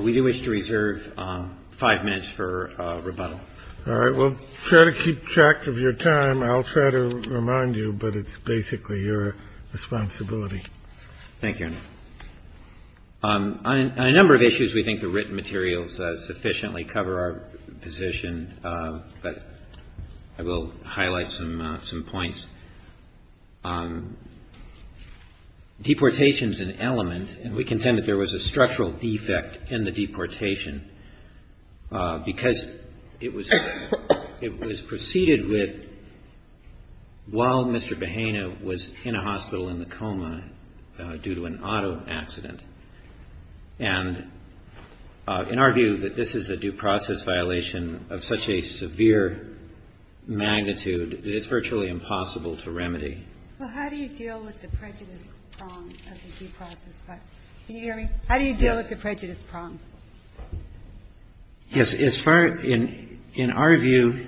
We do wish to reserve five minutes for rebuttal. All right. Well, try to keep track of your time. I'll try to remind you, but it's basically your responsibility. Thank you. On a number of issues, we think the written materials sufficiently cover our position, but I will highlight some points. Deportation is an element, and we contend that there was a structural defect in the deportation, because it was proceeded with while Mr. Bahena was in a hospital in the coma due to an auto accident. And in our view, that this is a due process violation of such a severe magnitude that it's virtually impossible to remedy. Well, how do you deal with the prejudice prong of the due process? Can you hear me? Yes. How do you deal with the prejudice prong? Yes. As far as — in our view,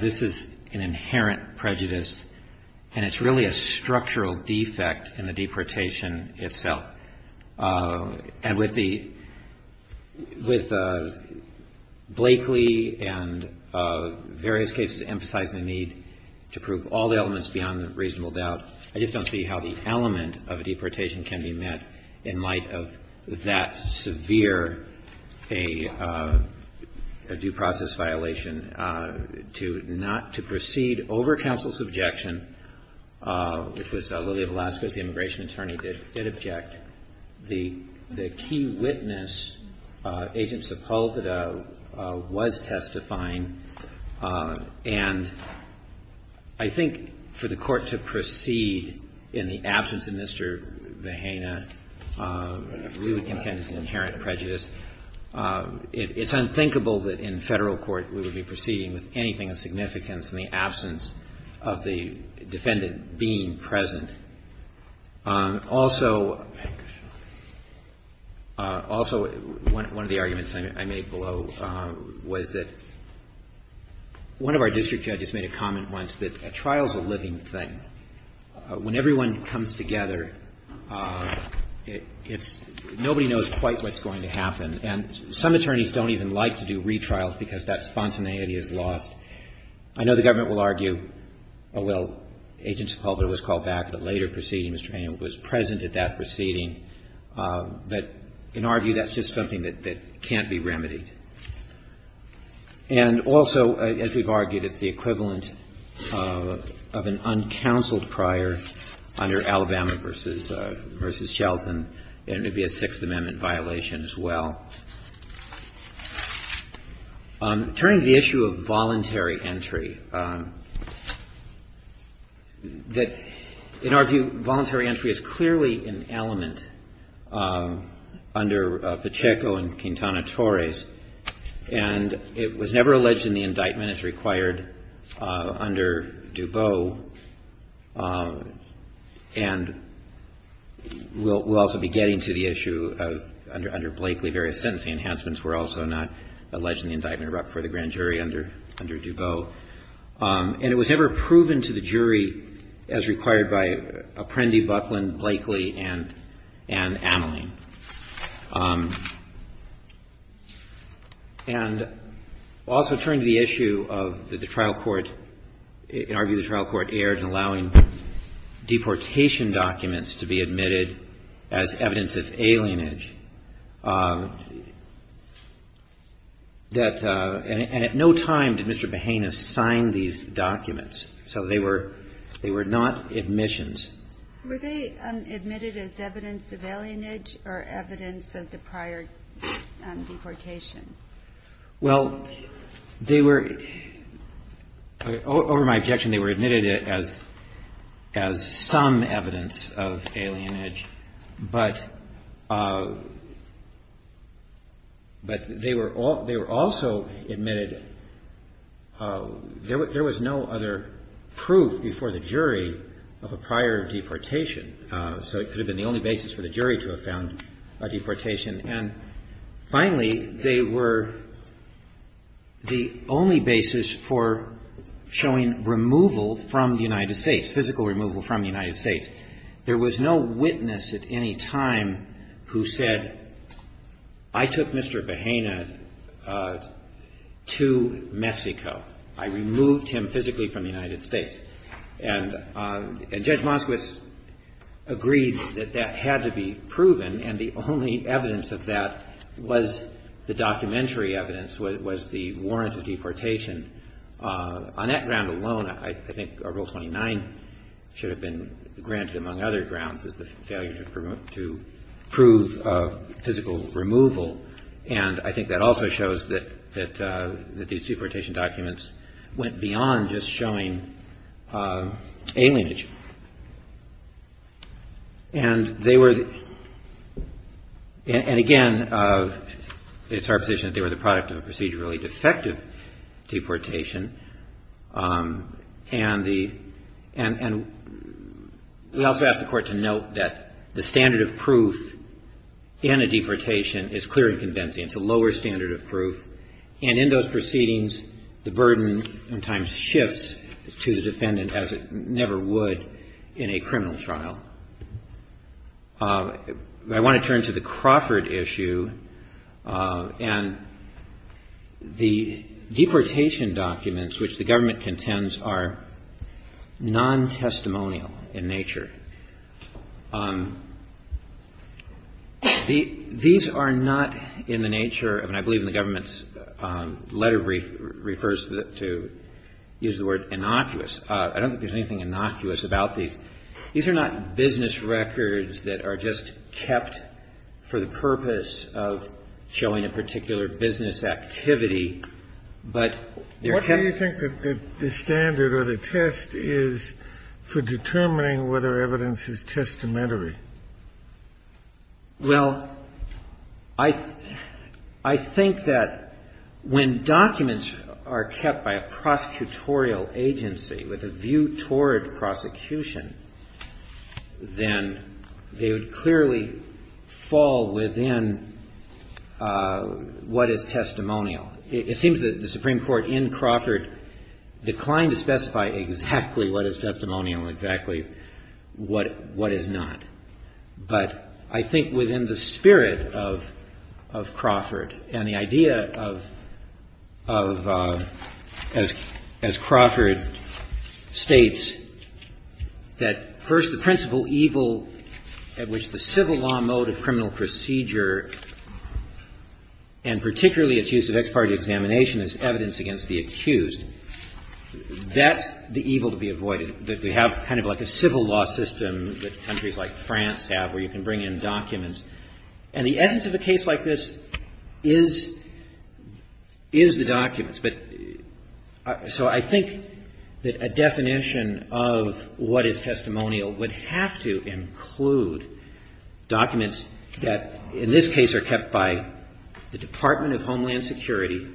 this is an inherent prejudice, and it's really a structural defect in the deportation itself. And with the — with Blakely and various cases emphasizing the need to prove all elements beyond reasonable doubt, I just don't see how the element of a deportation can be met in light of that severe a due process violation. To not — to proceed over counsel's objection, which was Lilia Velasquez, the immigration attorney, did object. But the key witness, Agent Sepulveda, was testifying. And I think for the Court to proceed in the absence of Mr. Bahena, we would contend it's an inherent prejudice. It's unthinkable that in Federal court we would be proceeding with anything of significance in the absence of the defendant being present. Also — also, one of the arguments I made below was that one of our district judges made a comment once that a trial is a living thing. When everyone comes together, it's — nobody knows quite what's going to happen. And some attorneys don't even like to do retrials because that spontaneity is lost. I know the government will argue — well, Agent Sepulveda was called back at a later proceeding. Mr. Bahena was present at that proceeding. But in our view, that's just something that can't be remedied. And also, as we've argued, it's the equivalent of an uncounseled prior under Alabama v. Shelton, and it would be a Sixth Amendment violation as well. Turning to the issue of voluntary entry, that in our view, voluntary entry is clearly an element under Pacheco and Quintana Torres. And it was never alleged in the indictment as required under DuBose. And we'll also be getting to the issue of — under Blakely, various sentencing enhancements were also not alleged in the indictment for the grand jury under — under DuBose. And it was never proven to the jury as required by Apprendi, Buckland, Blakely, and Ameline. And we'll also turn to the issue of the trial court — in our view, the trial court erred in allowing deportation documents to be admitted as evidence of alienage, that — and at no time did Mr. Bahena sign these documents. So they were — they were not admissions. Were they admitted as evidence of alienage or evidence of the prior deportation? Well, they were — over my objection, they were admitted as — as some evidence of alienage. But — but they were — they were also admitted — there was no other proof before the jury of a prior deportation. So it could have been the only basis for the jury to have found a deportation. And finally, they were the only basis for showing removal from the United States, physical removal from the United States. There was no witness at any time who said, I took Mr. Bahena to Mexico. I removed him physically from the United States. And Judge Moskowitz agreed that that had to be proven. And the only evidence of that was the documentary evidence, was the warrant of deportation. On that ground alone, I think Rule 29 should have been granted, among other grounds, as the failure to prove physical removal. And I think that also shows that these deportation documents went beyond just showing alienage. And they were — and again, it's our position that they were the product of a procedurally defective deportation. And the — and we also ask the Court to note that the standard of proof in a deportation is clear and convincing. It's a lower standard of proof. And in those proceedings, the burden sometimes shifts to the defendant, as it never would in a criminal trial. I want to turn to the Crawford issue. And the deportation documents which the government contends are non-testimonial in nature. These are not in the nature of — and I believe in the government's letter brief refers to use the word innocuous. I don't think there's anything innocuous about these. These are not business records that are just kept for the purpose of showing a particular business activity, but they're kept — Kennedy. What do you think that the standard or the test is for determining whether evidence is testamentary? Well, I think that when documents are kept by a prosecutorial agency with a view toward prosecution, then they would clearly fall within what is testimonial. It seems that the Supreme Court in Crawford declined to specify exactly what is testimonial and exactly what is not. But I think within the spirit of Crawford and the idea of — as Crawford states, that first the principal evil at which the civil law mode of criminal procedure and particularly its use of ex parte examination as evidence against the accused, that's the evil to be avoided, that we have kind of like a civil law system that countries like France have where you can bring in documents. And the essence of a case like this is the documents. So I think that a definition of what is testimonial would have to include documents that in this case are kept by the Department of Homeland Security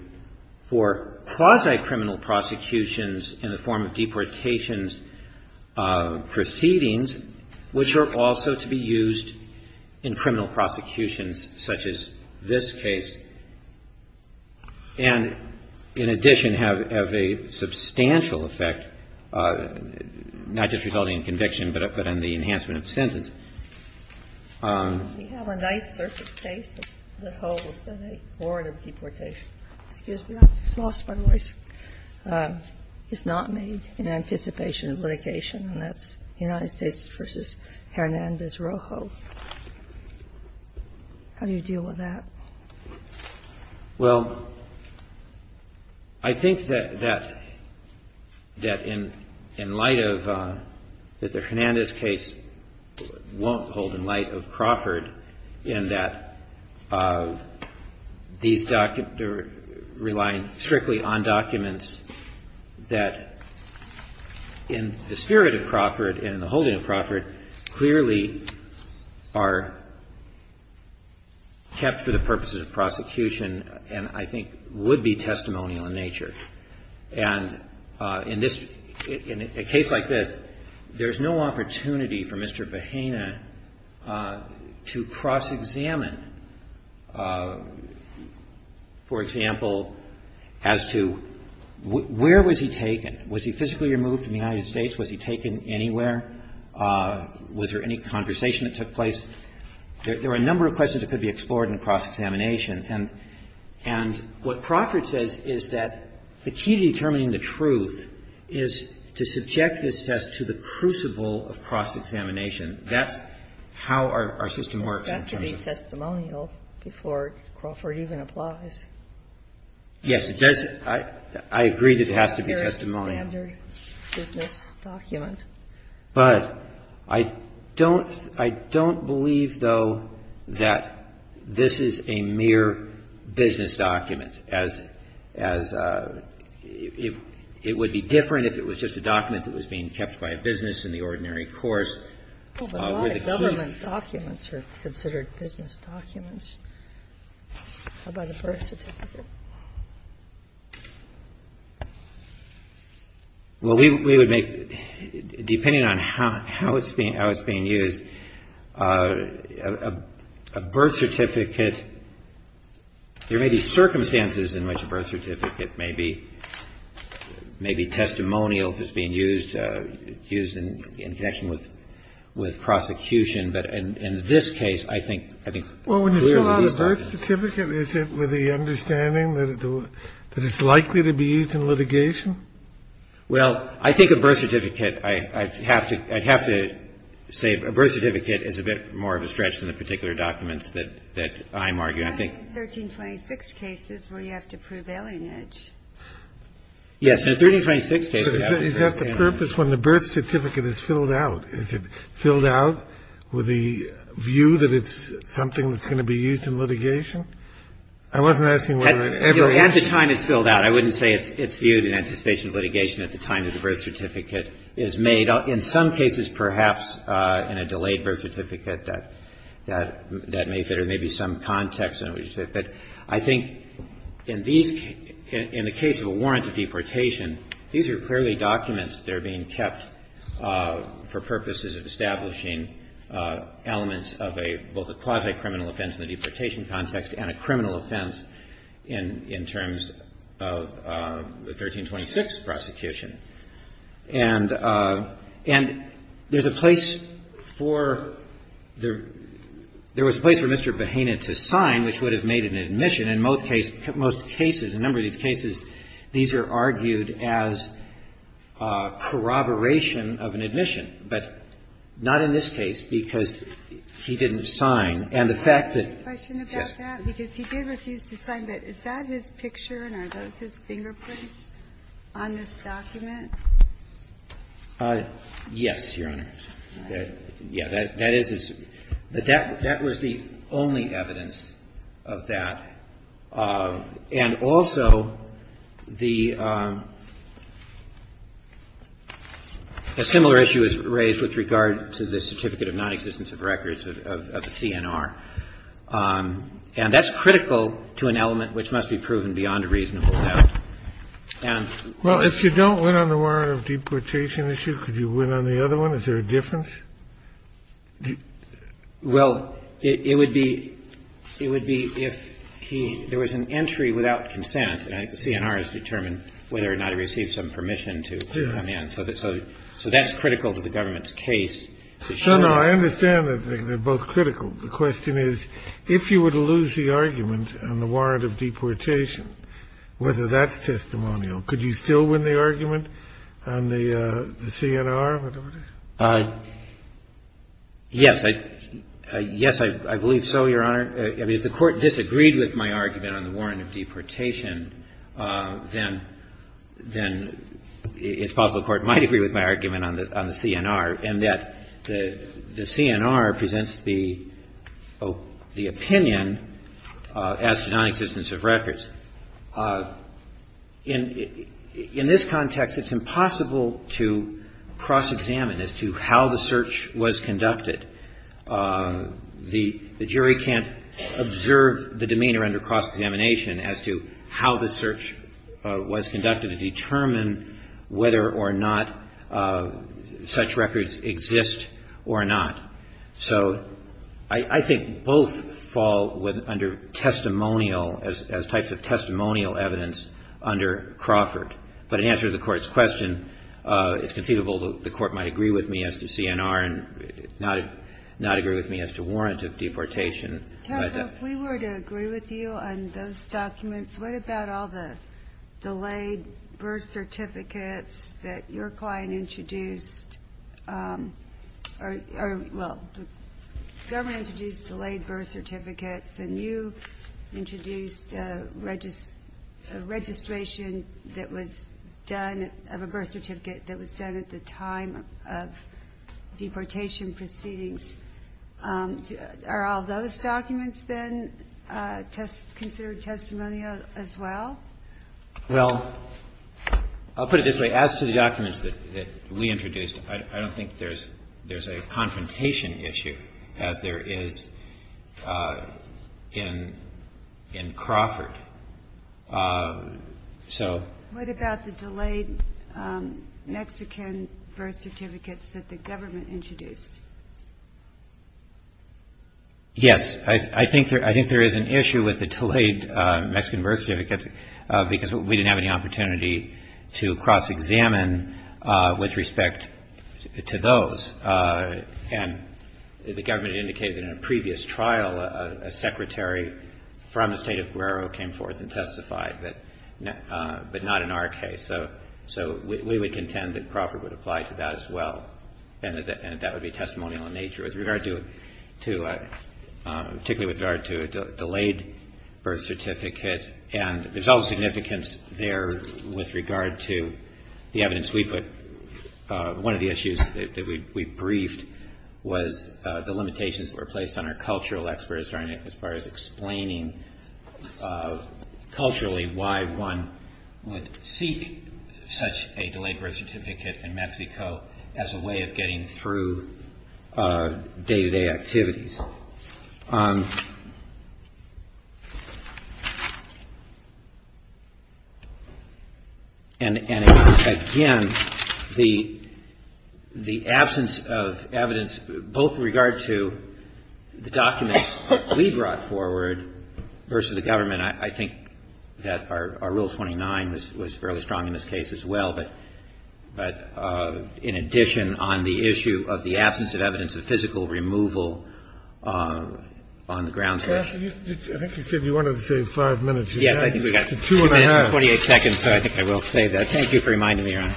for quasi-criminal prosecutions in the form of deportations proceedings, which are also to be used in criminal prosecutions such as this case and, in addition, have a substantial effect, not just resulting in conviction, but on the enhancement of sentence. We have a Ninth Circuit case that holds that a warrant of deportation is not made in anticipation of litigation, and that's United States v. Hernandez-Rojo. How do you deal with that? Well, I think that in light of — that the Hernandez case won't hold in light of Crawford in that these documents are relying strictly on documents that in the spirit of Crawford and in the holding of Crawford clearly are kept for the purposes of prosecution and I think would be testimonial in nature. And in this — in a case like this, there's no opportunity for Mr. Behena to cross-examine, for example, as to where was he taken? Was he physically removed from the United States? Was he taken anywhere? Was there any conversation that took place? There are a number of questions that could be explored in a cross-examination. And what Crawford says is that the key to determining the truth is to subject this test to the crucible of cross-examination. That's how our system works in terms of — It has to be testimonial before Crawford even applies. Yes, it does. I agree that it has to be testimonial. It's a very standard business document. But I don't — I don't believe, though, that this is a mere business document, as it would be different if it was just a document that was being kept by a business in the ordinary course. Oh, but a lot of government documents are considered business documents. How about a birth certificate? Well, we would make — depending on how it's being used, a birth certificate — there may be circumstances in which a birth certificate may be testimonial that's being used, used in connection with prosecution. But in this case, I think clearly these documents — A birth certificate, is it with the understanding that it's likely to be used in litigation? Well, I think a birth certificate — I'd have to — I'd have to say a birth certificate is a bit more of a stretch than the particular documents that I'm arguing. I think — 1326 cases where you have to prove alienage. Yes. In 1326 cases — Is that the purpose when the birth certificate is filled out? Is it filled out with the view that it's something that's going to be used in litigation? I wasn't asking whether it ever — You know, at the time it's filled out, I wouldn't say it's viewed in anticipation of litigation at the time that the birth certificate is made. In some cases, perhaps, in a delayed birth certificate, that may — there may be some context in which — but I think in these — in the case of a warranted deportation, these are clearly documents that are being kept for purposes of establishing elements of a — both a quasi-criminal offense in the deportation context and a criminal offense in terms of the 1326 prosecution. And there's a place for — there was a place for Mr. Behanin to sign which would have made an admission. In most cases, a number of these cases, these are argued as corroboration of an admission, but not in this case because he didn't sign. And the fact that — Can I ask a question about that? Yes. Because he did refuse to sign, but is that his picture and are those his fingerprints on this document? Yes, Your Honor. All right. Yeah, that is his — that was the only evidence of that. And also, the — a similar issue is raised with regard to the certificate of nonexistence of records of the CNR. And that's critical to an element which must be proven beyond a reasonable doubt. And — Well, it would be — it would be if he — there was an entry without consent, and I think the CNR has determined whether or not he received some permission to come in. So that's critical to the government's case. No, no. I understand that they're both critical. The question is, if you were to lose the argument on the warrant of deportation, whether that's testimonial, could you still win the argument on the CNR, whatever it is? Yes. Yes, I believe so, Your Honor. I mean, if the Court disagreed with my argument on the warrant of deportation, then it's possible the Court might agree with my argument on the CNR, and that the CNR presents the opinion as to nonexistence of records. In this context, it's impossible to cross-examine as to how the search was conducted. The jury can't observe the demeanor under cross-examination as to how the search was conducted to determine whether or not such records exist or not. So I think both fall under testimonial, as types of testimonial evidence, under Crawford. But in answer to the Court's question, it's conceivable the Court might agree with me as to CNR and not agree with me as to warrant of deportation. Counsel, if we were to agree with you on those documents, what about all the delayed birth certificates that your client introduced? Or, well, the government introduced delayed birth certificates, and you introduced a registration that was done of a birth certificate that was done at the time of deportation proceedings. Are all those documents then considered testimonial as well? Well, I'll put it this way. As to the documents that we introduced, I don't think there's a confrontation issue, as there is in Crawford. What about the delayed Mexican birth certificates that the government introduced? Yes, I think there is an issue with the delayed Mexican birth certificates, because we didn't have any opportunity to cross-examine with respect to those. And the government indicated that in a previous trial, a secretary from the state of Guerrero came forth and testified, but not in our case. So we would contend that Crawford would apply to that as well, and that that would be testimonial in nature. With regard to, particularly with regard to a delayed birth certificate, and there's also significance there with regard to the evidence we put. One of the issues that we briefed was the limitations that were placed on our cultural experts as far as explaining culturally why one would seek such a delayed birth certificate in Mexico as a way of getting through day-to-day activities. And again, the absence of evidence, both with regard to the documents that we brought forward, and the absence of evidence versus the government, I think that our Rule 29 was fairly strong in this case as well. But in addition, on the issue of the absence of evidence of physical removal on the grounds of this. I think you said you wanted to save 5 minutes. Yes, I think we've got 2 minutes and 28 seconds, so I think I will save that. Thank you for reminding me, Your Honor.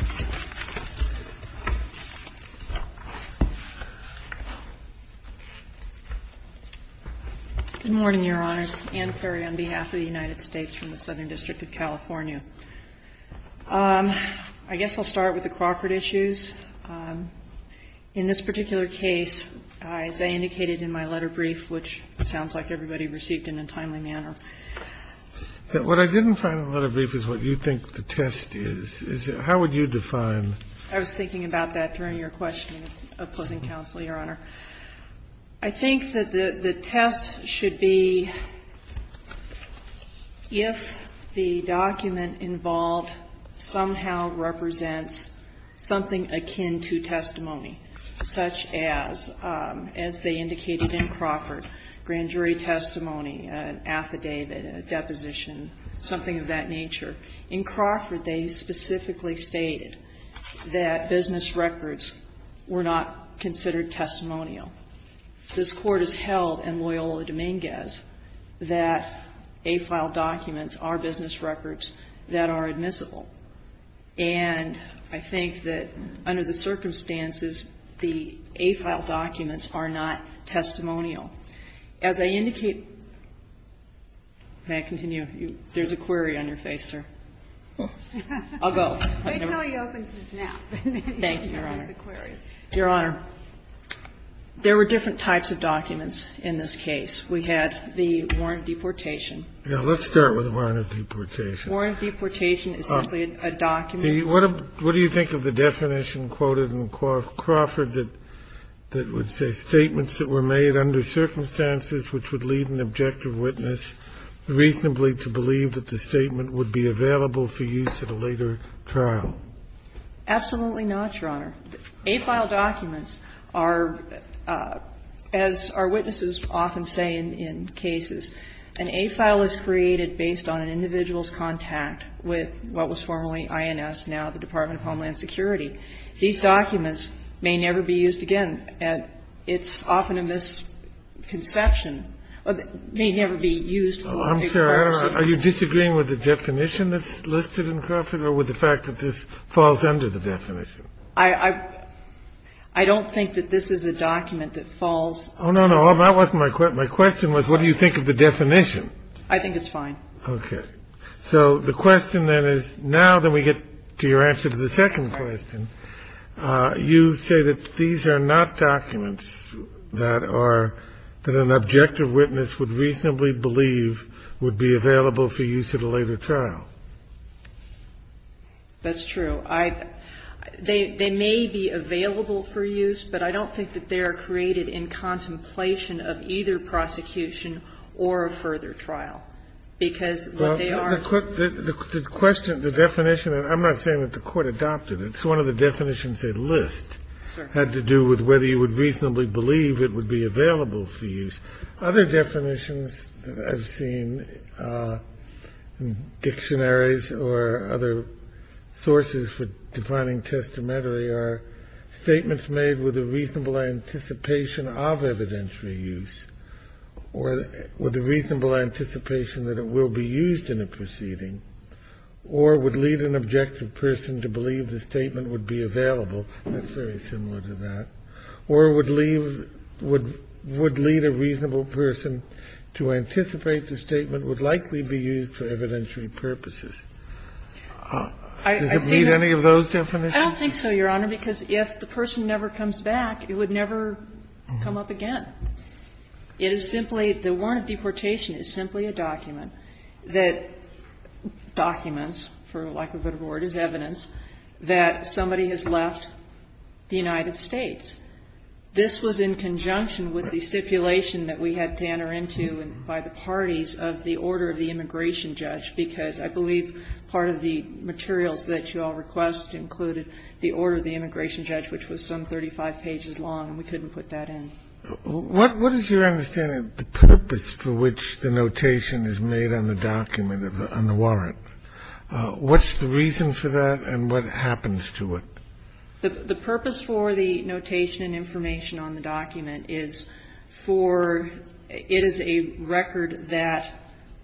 Good morning, Your Honors. Ann Perry on behalf of the United States from the Southern District of California. I guess I'll start with the Crawford issues. In this particular case, as I indicated in my letter brief, which sounds like everybody received in a timely manner. What I didn't find in the letter brief is what you think the test is. How would you define? I was thinking about that during your question, opposing counsel, Your Honor. I think that the test should be if the document involved somehow represents something akin to testimony, such as, as they indicated in Crawford, grand jury testimony, an affidavit, a deposition, something of that nature. In Crawford, they specifically stated that business records were not considered testimonial. This Court has held in Loyola Dominguez that A-file documents are business records that are admissible. And I think that under the circumstances, the A-file documents are not testimonial. As I indicate, may I continue? There's a query on your face, sir. I'll go. They tell you open since now. Thank you, Your Honor. There's a query. Your Honor, there were different types of documents in this case. We had the warrant deportation. Let's start with the warrant deportation. Warrant deportation is simply a document. What do you think of the definition quoted in Crawford that would say, statements that were made under circumstances which would lead an objective witness reasonably to believe that the statement would be available for use at a later trial? Absolutely not, Your Honor. A-file documents are, as our witnesses often say in cases, an A-file is created based on an individual's contact with what was formerly INS, now the Department of Homeland Security. These documents may never be used again. It's often a misconception. It may never be used for a person. I'm sorry. Are you disagreeing with the definition that's listed in Crawford or with the fact that this falls under the definition? I don't think that this is a document that falls. Oh, no, no. My question was what do you think of the definition? I think it's fine. Okay. So the question then is, now that we get to your answer to the second question, you say that these are not documents that are, that an objective witness would reasonably believe would be available for use at a later trial. That's true. They may be available for use, but I don't think that they are created in contemplation of either prosecution or a further trial, because what they are. The question, the definition, I'm not saying that the Court adopted it. It's one of the definitions they list had to do with whether you would reasonably believe it would be available for use. Other definitions I've seen in dictionaries or other sources for defining testamentary are statements made with a reasonable anticipation of evidentiary use or with a reasonable anticipation that it will be used in a proceeding or would lead an objective person to believe the statement would be available. That's very similar to that. Or would leave, would lead a reasonable person to anticipate the statement would likely be used for evidentiary purposes. Does it meet any of those definitions? I don't think so, Your Honor, because if the person never comes back, it would never come up again. It is simply, the warrant of deportation is simply a document that documents, for lack of a better word, is evidence that somebody has left the United States. This was in conjunction with the stipulation that we had Tanner into by the parties of the order of the immigration judge, because I believe part of the materials that you all request included the order of the immigration judge, which was some 35 pages long, and we couldn't put that in. What is your understanding of the purpose for which the notation is made on the document on the warrant? What's the reason for that and what happens to it? The purpose for the notation and information on the document is for, it is a record that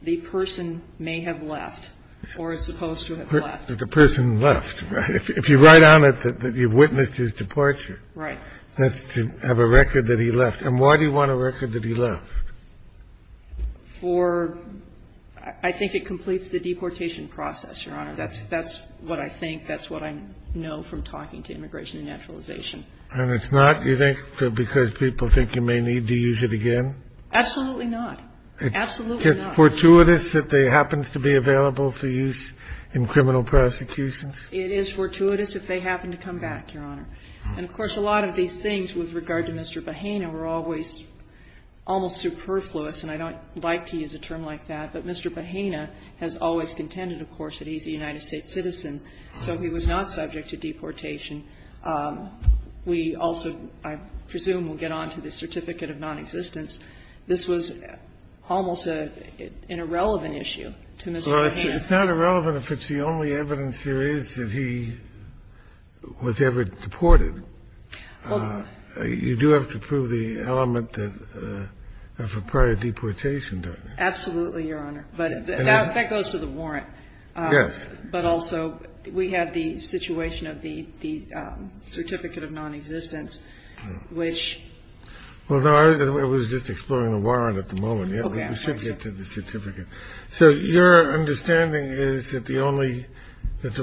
the person may have left or is supposed to have left. The person left, right? If you write on it that you've witnessed his departure. Right. That's to have a record that he left. And why do you want a record that he left? For, I think it completes the deportation process, Your Honor. That's what I think. I think that's what I know from talking to Immigration and Naturalization. And it's not, you think, because people think you may need to use it again? Absolutely not. Absolutely not. Is it fortuitous if it happens to be available for use in criminal prosecutions? It is fortuitous if they happen to come back, Your Honor. And, of course, a lot of these things with regard to Mr. Bahena were always almost superfluous, and I don't like to use a term like that. But Mr. Bahena has always contended, of course, that he's a United States citizen, so he was not subject to deportation. We also, I presume, will get on to the certificate of nonexistence. This was almost an irrelevant issue to Mr. Bahena. Well, it's not irrelevant if it's the only evidence there is that he was ever deported. You do have to prove the element of a prior deportation, don't you? Absolutely, Your Honor. But that goes to the warrant. Yes. But also we have the situation of the certificate of nonexistence, which. Well, no, I was just exploring the warrant at the moment. We should get to the certificate. So your understanding is that the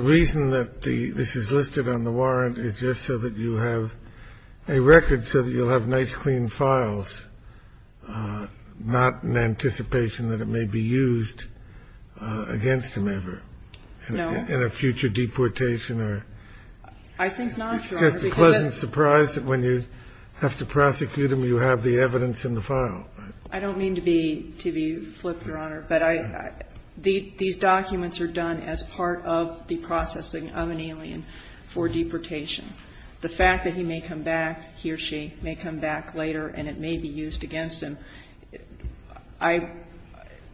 reason that this is listed on the warrant is just so that you have a record, so that you'll have nice, clean files, not in anticipation that it may be used against him ever. No. In a future deportation or. I think not, Your Honor. It's just a pleasant surprise that when you have to prosecute him, you have the evidence in the file. I don't mean to be flip, Your Honor, but these documents are done as part of the processing of an alien for deportation. The fact that he may come back, he or she may come back later and it may be used against him, I –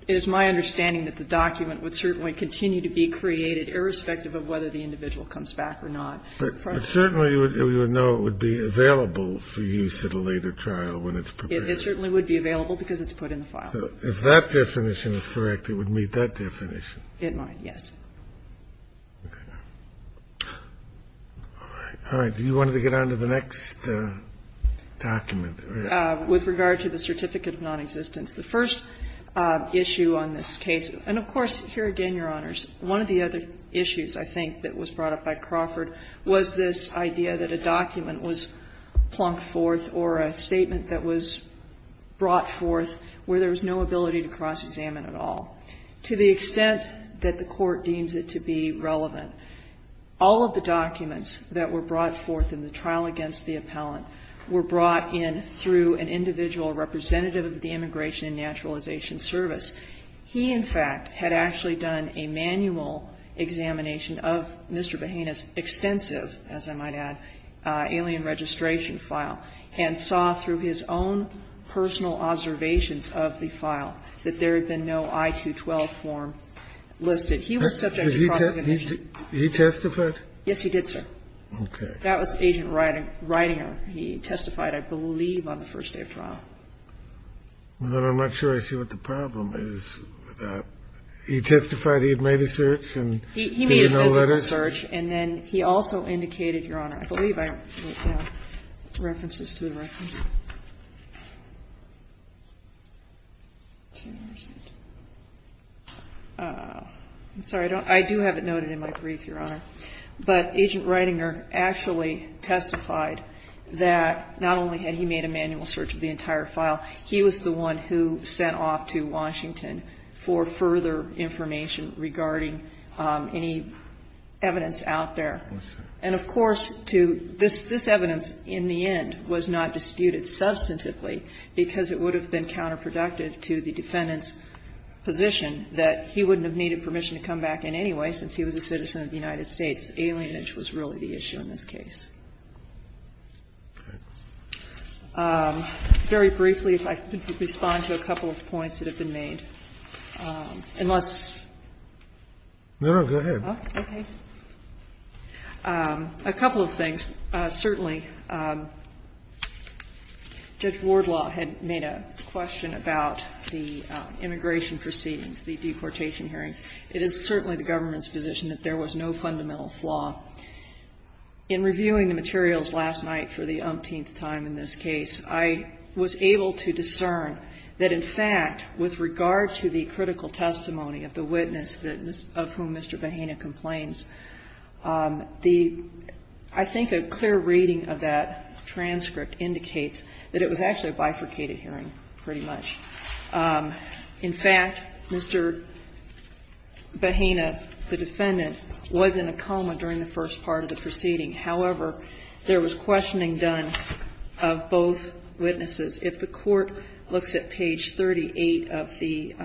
it is my understanding that the document would certainly continue to be created irrespective of whether the individual comes back or not. But certainly we would know it would be available for use at a later trial when it's prepared. It certainly would be available because it's put in the file. If that definition is correct, it would meet that definition. It might, yes. Okay. All right. Do you want to get on to the next document? With regard to the certificate of nonexistence. The first issue on this case, and of course, here again, Your Honors, one of the other issues I think that was brought up by Crawford was this idea that a document was plunked forth or a statement that was brought forth where there was no ability to cross-examine at all. To the extent that the Court deems it to be relevant, all of the documents that were brought forth in the trial against the appellant were brought in through an individual representative of the Immigration and Naturalization Service. He, in fact, had actually done a manual examination of Mr. Behena's extensive, as I might add, alien registration file and saw through his own personal observations of the file that there had been no I-212 form listed. He was subject to cross-examination. He testified? Yes, he did, sir. Okay. That was Agent Ridinger. He testified, I believe, on the first day of trial. Well, then I'm not sure I see what the problem is with that. He testified he had made a search, and do you know that it's? He made a physical search. And then he also indicated, Your Honor, I believe I wrote down references to the record. I'm sorry, I do have it noted in my brief, Your Honor. But Agent Ridinger actually testified that not only had he made a manual search of the entire file, he was the one who sent off to Washington for further information regarding any evidence out there. Yes, sir. And, of course, to this, this evidence in the end was not disputed substantively because it would have been counterproductive to the defendant's position that he wouldn't have needed permission to come back in anyway since he was a citizen of the United States. Alienage was really the issue in this case. Very briefly, if I could respond to a couple of points that have been made. Unless. No, no, go ahead. Okay. A couple of things. Certainly, Judge Wardlaw had made a question about the immigration proceedings, the deportation hearings. It is certainly the government's position that there was no fundamental flaw. In reviewing the materials last night for the umpteenth time in this case, I was able to discern that, in fact, with regard to the critical testimony of the witness of whom Mr. Behena complains, the, I think a clear reading of that transcript indicates that it was actually a bifurcated hearing pretty much. In fact, Mr. Behena, the defendant, was in a coma during the first part of the proceeding. However, there was questioning done of both witnesses. If the court looks at page 38 of the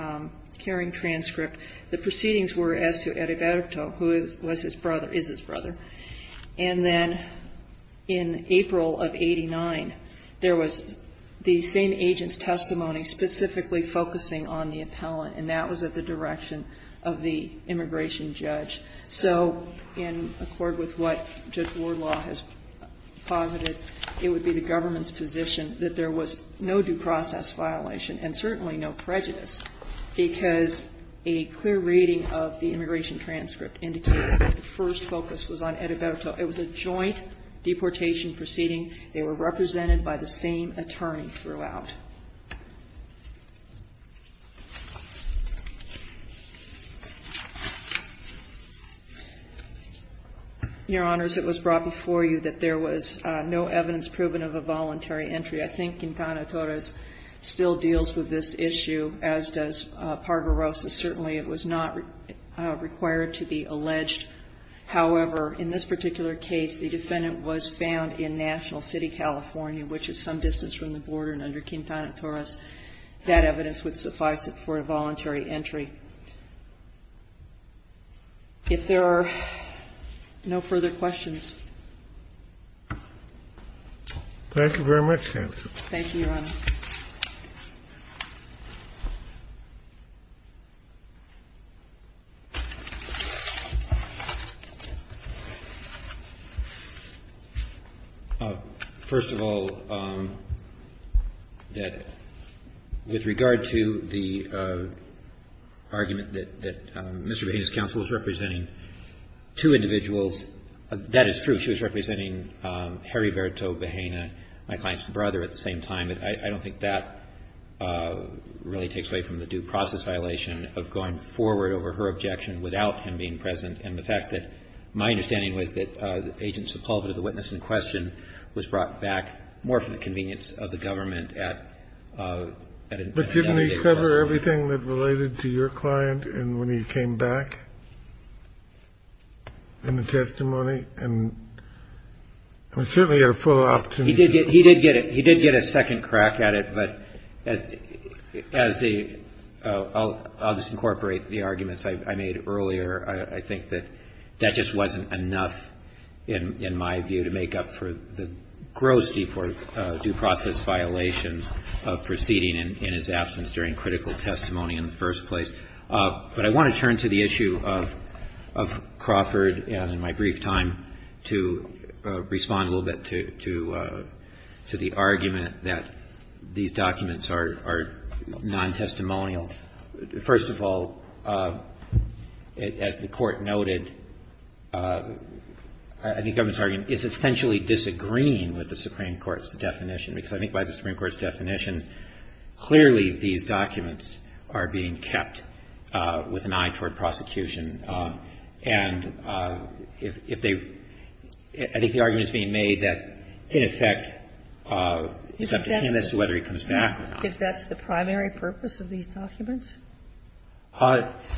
hearing transcript, the proceedings were as to Eriberto, who was his brother, is his brother. And then in April of 89, there was the same agent's testimony specifically focusing on the appellant, and that was at the direction of the immigration judge. So, in accord with what Judge Wardlaw has posited, it would be the government's position that there was no due process violation and certainly no prejudice, because a clear reading of the immigration transcript indicates that the first focus was on Eriberto. It was a joint deportation proceeding. They were represented by the same attorney throughout. Your Honors, it was brought before you that there was no evidence proven of a voluntary entry. I think Quintana Torres still deals with this issue, as does Parga-Rosas. Certainly, it was not required to be alleged. However, in this particular case, the defendant was found in National City, California, which is some distance from the border, and under Quintana Torres, that evidence would suffice for a voluntary entry. If there are no further questions. Thank you very much, counsel. Thank you, Your Honor. First of all, that with regard to the argument that Mr. Baines's counsel is representing two individuals, that is true. She was representing Eriberto Vajena, my client's brother, at the same time. But I don't think that really takes away from the due process violation of going forward over her objection without him being present and the fact that my understanding was that Agent Sepulveda, the witness in question, was brought back more for the convenience of the government at an investigation. But didn't he cover everything that related to your client when he came back? In the testimony? And we certainly got a full opportunity. He did get a second crack at it, but as the — I'll just incorporate the arguments I made earlier. I think that that just wasn't enough, in my view, to make up for the gross due process violations of proceeding in his absence during critical testimony in the first place. But I want to turn to the issue of Crawford and, in my brief time, to respond a little bit to the argument that these documents are non-testimonial. First of all, as the Court noted, I think the government's argument is essentially disagreeing with the Supreme Court's definition, because I think by the Supreme Court's definition, the government's argument is that it's a non-testimonial document with an eye toward prosecution. And if they — I think the argument is being made that, in effect, it's up to him as to whether he comes back or not. Is that the primary purpose of these documents?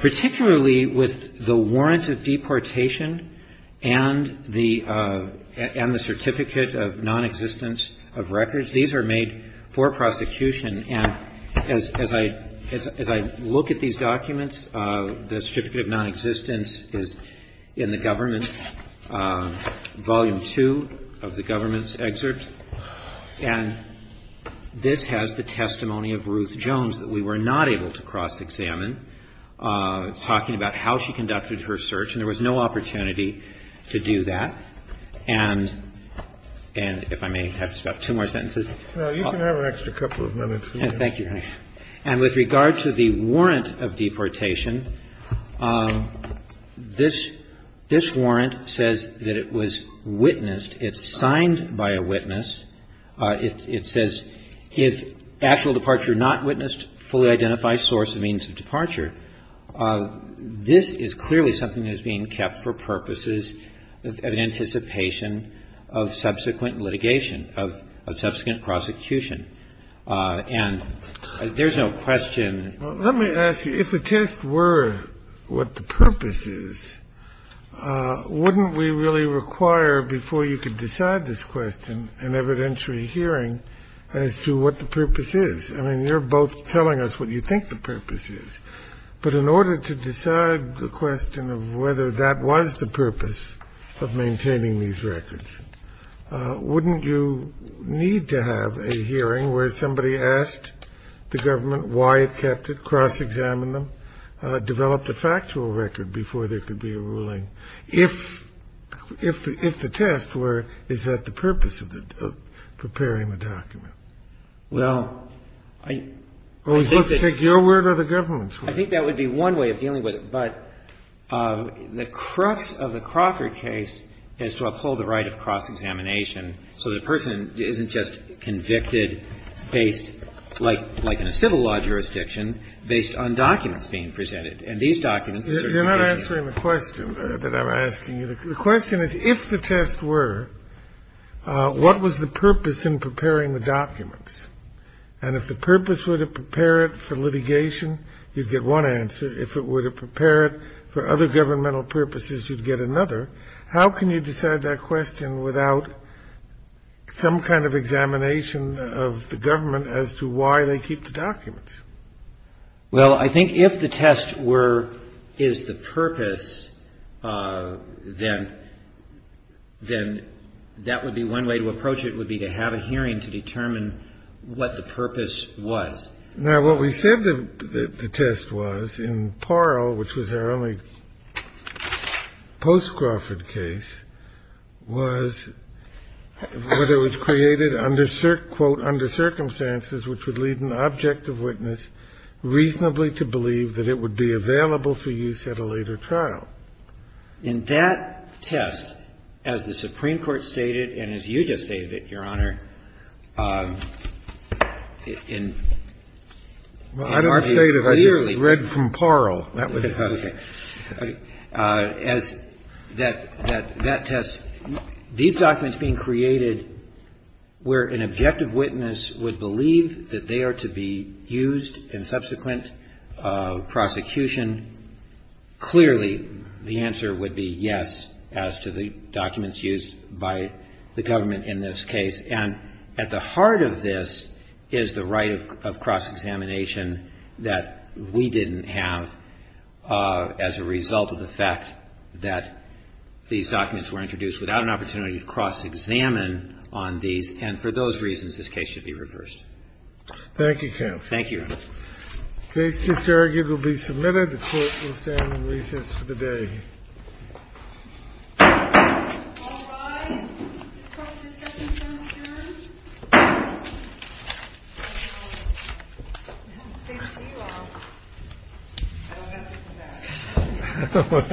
Particularly with the warrant of deportation and the certificate of nonexistence of records, these are made for prosecution. And as I look at these documents, the certificate of nonexistence is in the government's — Volume II of the government's excerpt. And this has the testimony of Ruth Jones that we were not able to cross-examine, talking about how she conducted her search. And there was no opportunity to do that. And if I may have just about two more sentences. Kennedy. Well, you can have an extra couple of minutes. Roberts. Thank you, Your Honor. And with regard to the warrant of deportation, this warrant says that it was witnessed. It's signed by a witness. It says, if actual departure not witnessed, fully identify source and means of departure. This is clearly something that is being kept for purposes of anticipation of subsequent litigation, of subsequent prosecution. And there's no question. Let me ask you, if the test were what the purpose is, wouldn't we really require before you could decide this question an evidentiary hearing as to what the purpose is? I mean, you're both telling us what you think the purpose is. But in order to decide the question of whether that was the purpose of maintaining these records, wouldn't you need to have a hearing where somebody asked the government why it kept it, cross-examined them, developed a factual record before there could be a ruling? If the test were, is that the purpose of preparing the document? Well, I think that your word or the government's word. I think that would be one way of dealing with it. But the crux of the Crawford case is to uphold the right of cross-examination so the person isn't just convicted based, like in a civil law jurisdiction, based on documents being presented. And these documents are certainly given. You're not answering the question that I'm asking you. The question is, if the test were, what was the purpose in preparing the documents? And if the purpose were to prepare it for litigation, you'd get one answer. If it were to prepare it for other governmental purposes, you'd get another. How can you decide that question without some kind of examination of the government as to why they keep the documents? Well, I think if the test were, is the purpose, then that would be one way to approach it, would be to have a hearing to determine what the purpose was. Now, what we said the test was in Parle, which was our only post-Crawford case, was whether it was created under, quote, under circumstances which would lead an objective witness reasonably to believe that it would be available for use at a later trial. In that test, as the Supreme Court stated, and as you just stated, Your Honor, in R.V. Clearly. Well, I don't say that. I just read from Parle. That was it. Okay. As that test, these documents being created where an objective witness would believe that they are to be used in subsequent prosecution, clearly the answer would be yes as to the documents used by the government in this case. And at the heart of this is the right of cross-examination that we didn't have as a result of the fact that these documents were introduced without an opportunity to cross-examine on these. And for those reasons, this case should be reversed. Thank you, counsel. Thank you, Your Honor. The case is here. It will be submitted. The Court will stand in recess for the day. All rise. Thank you, Your Honor.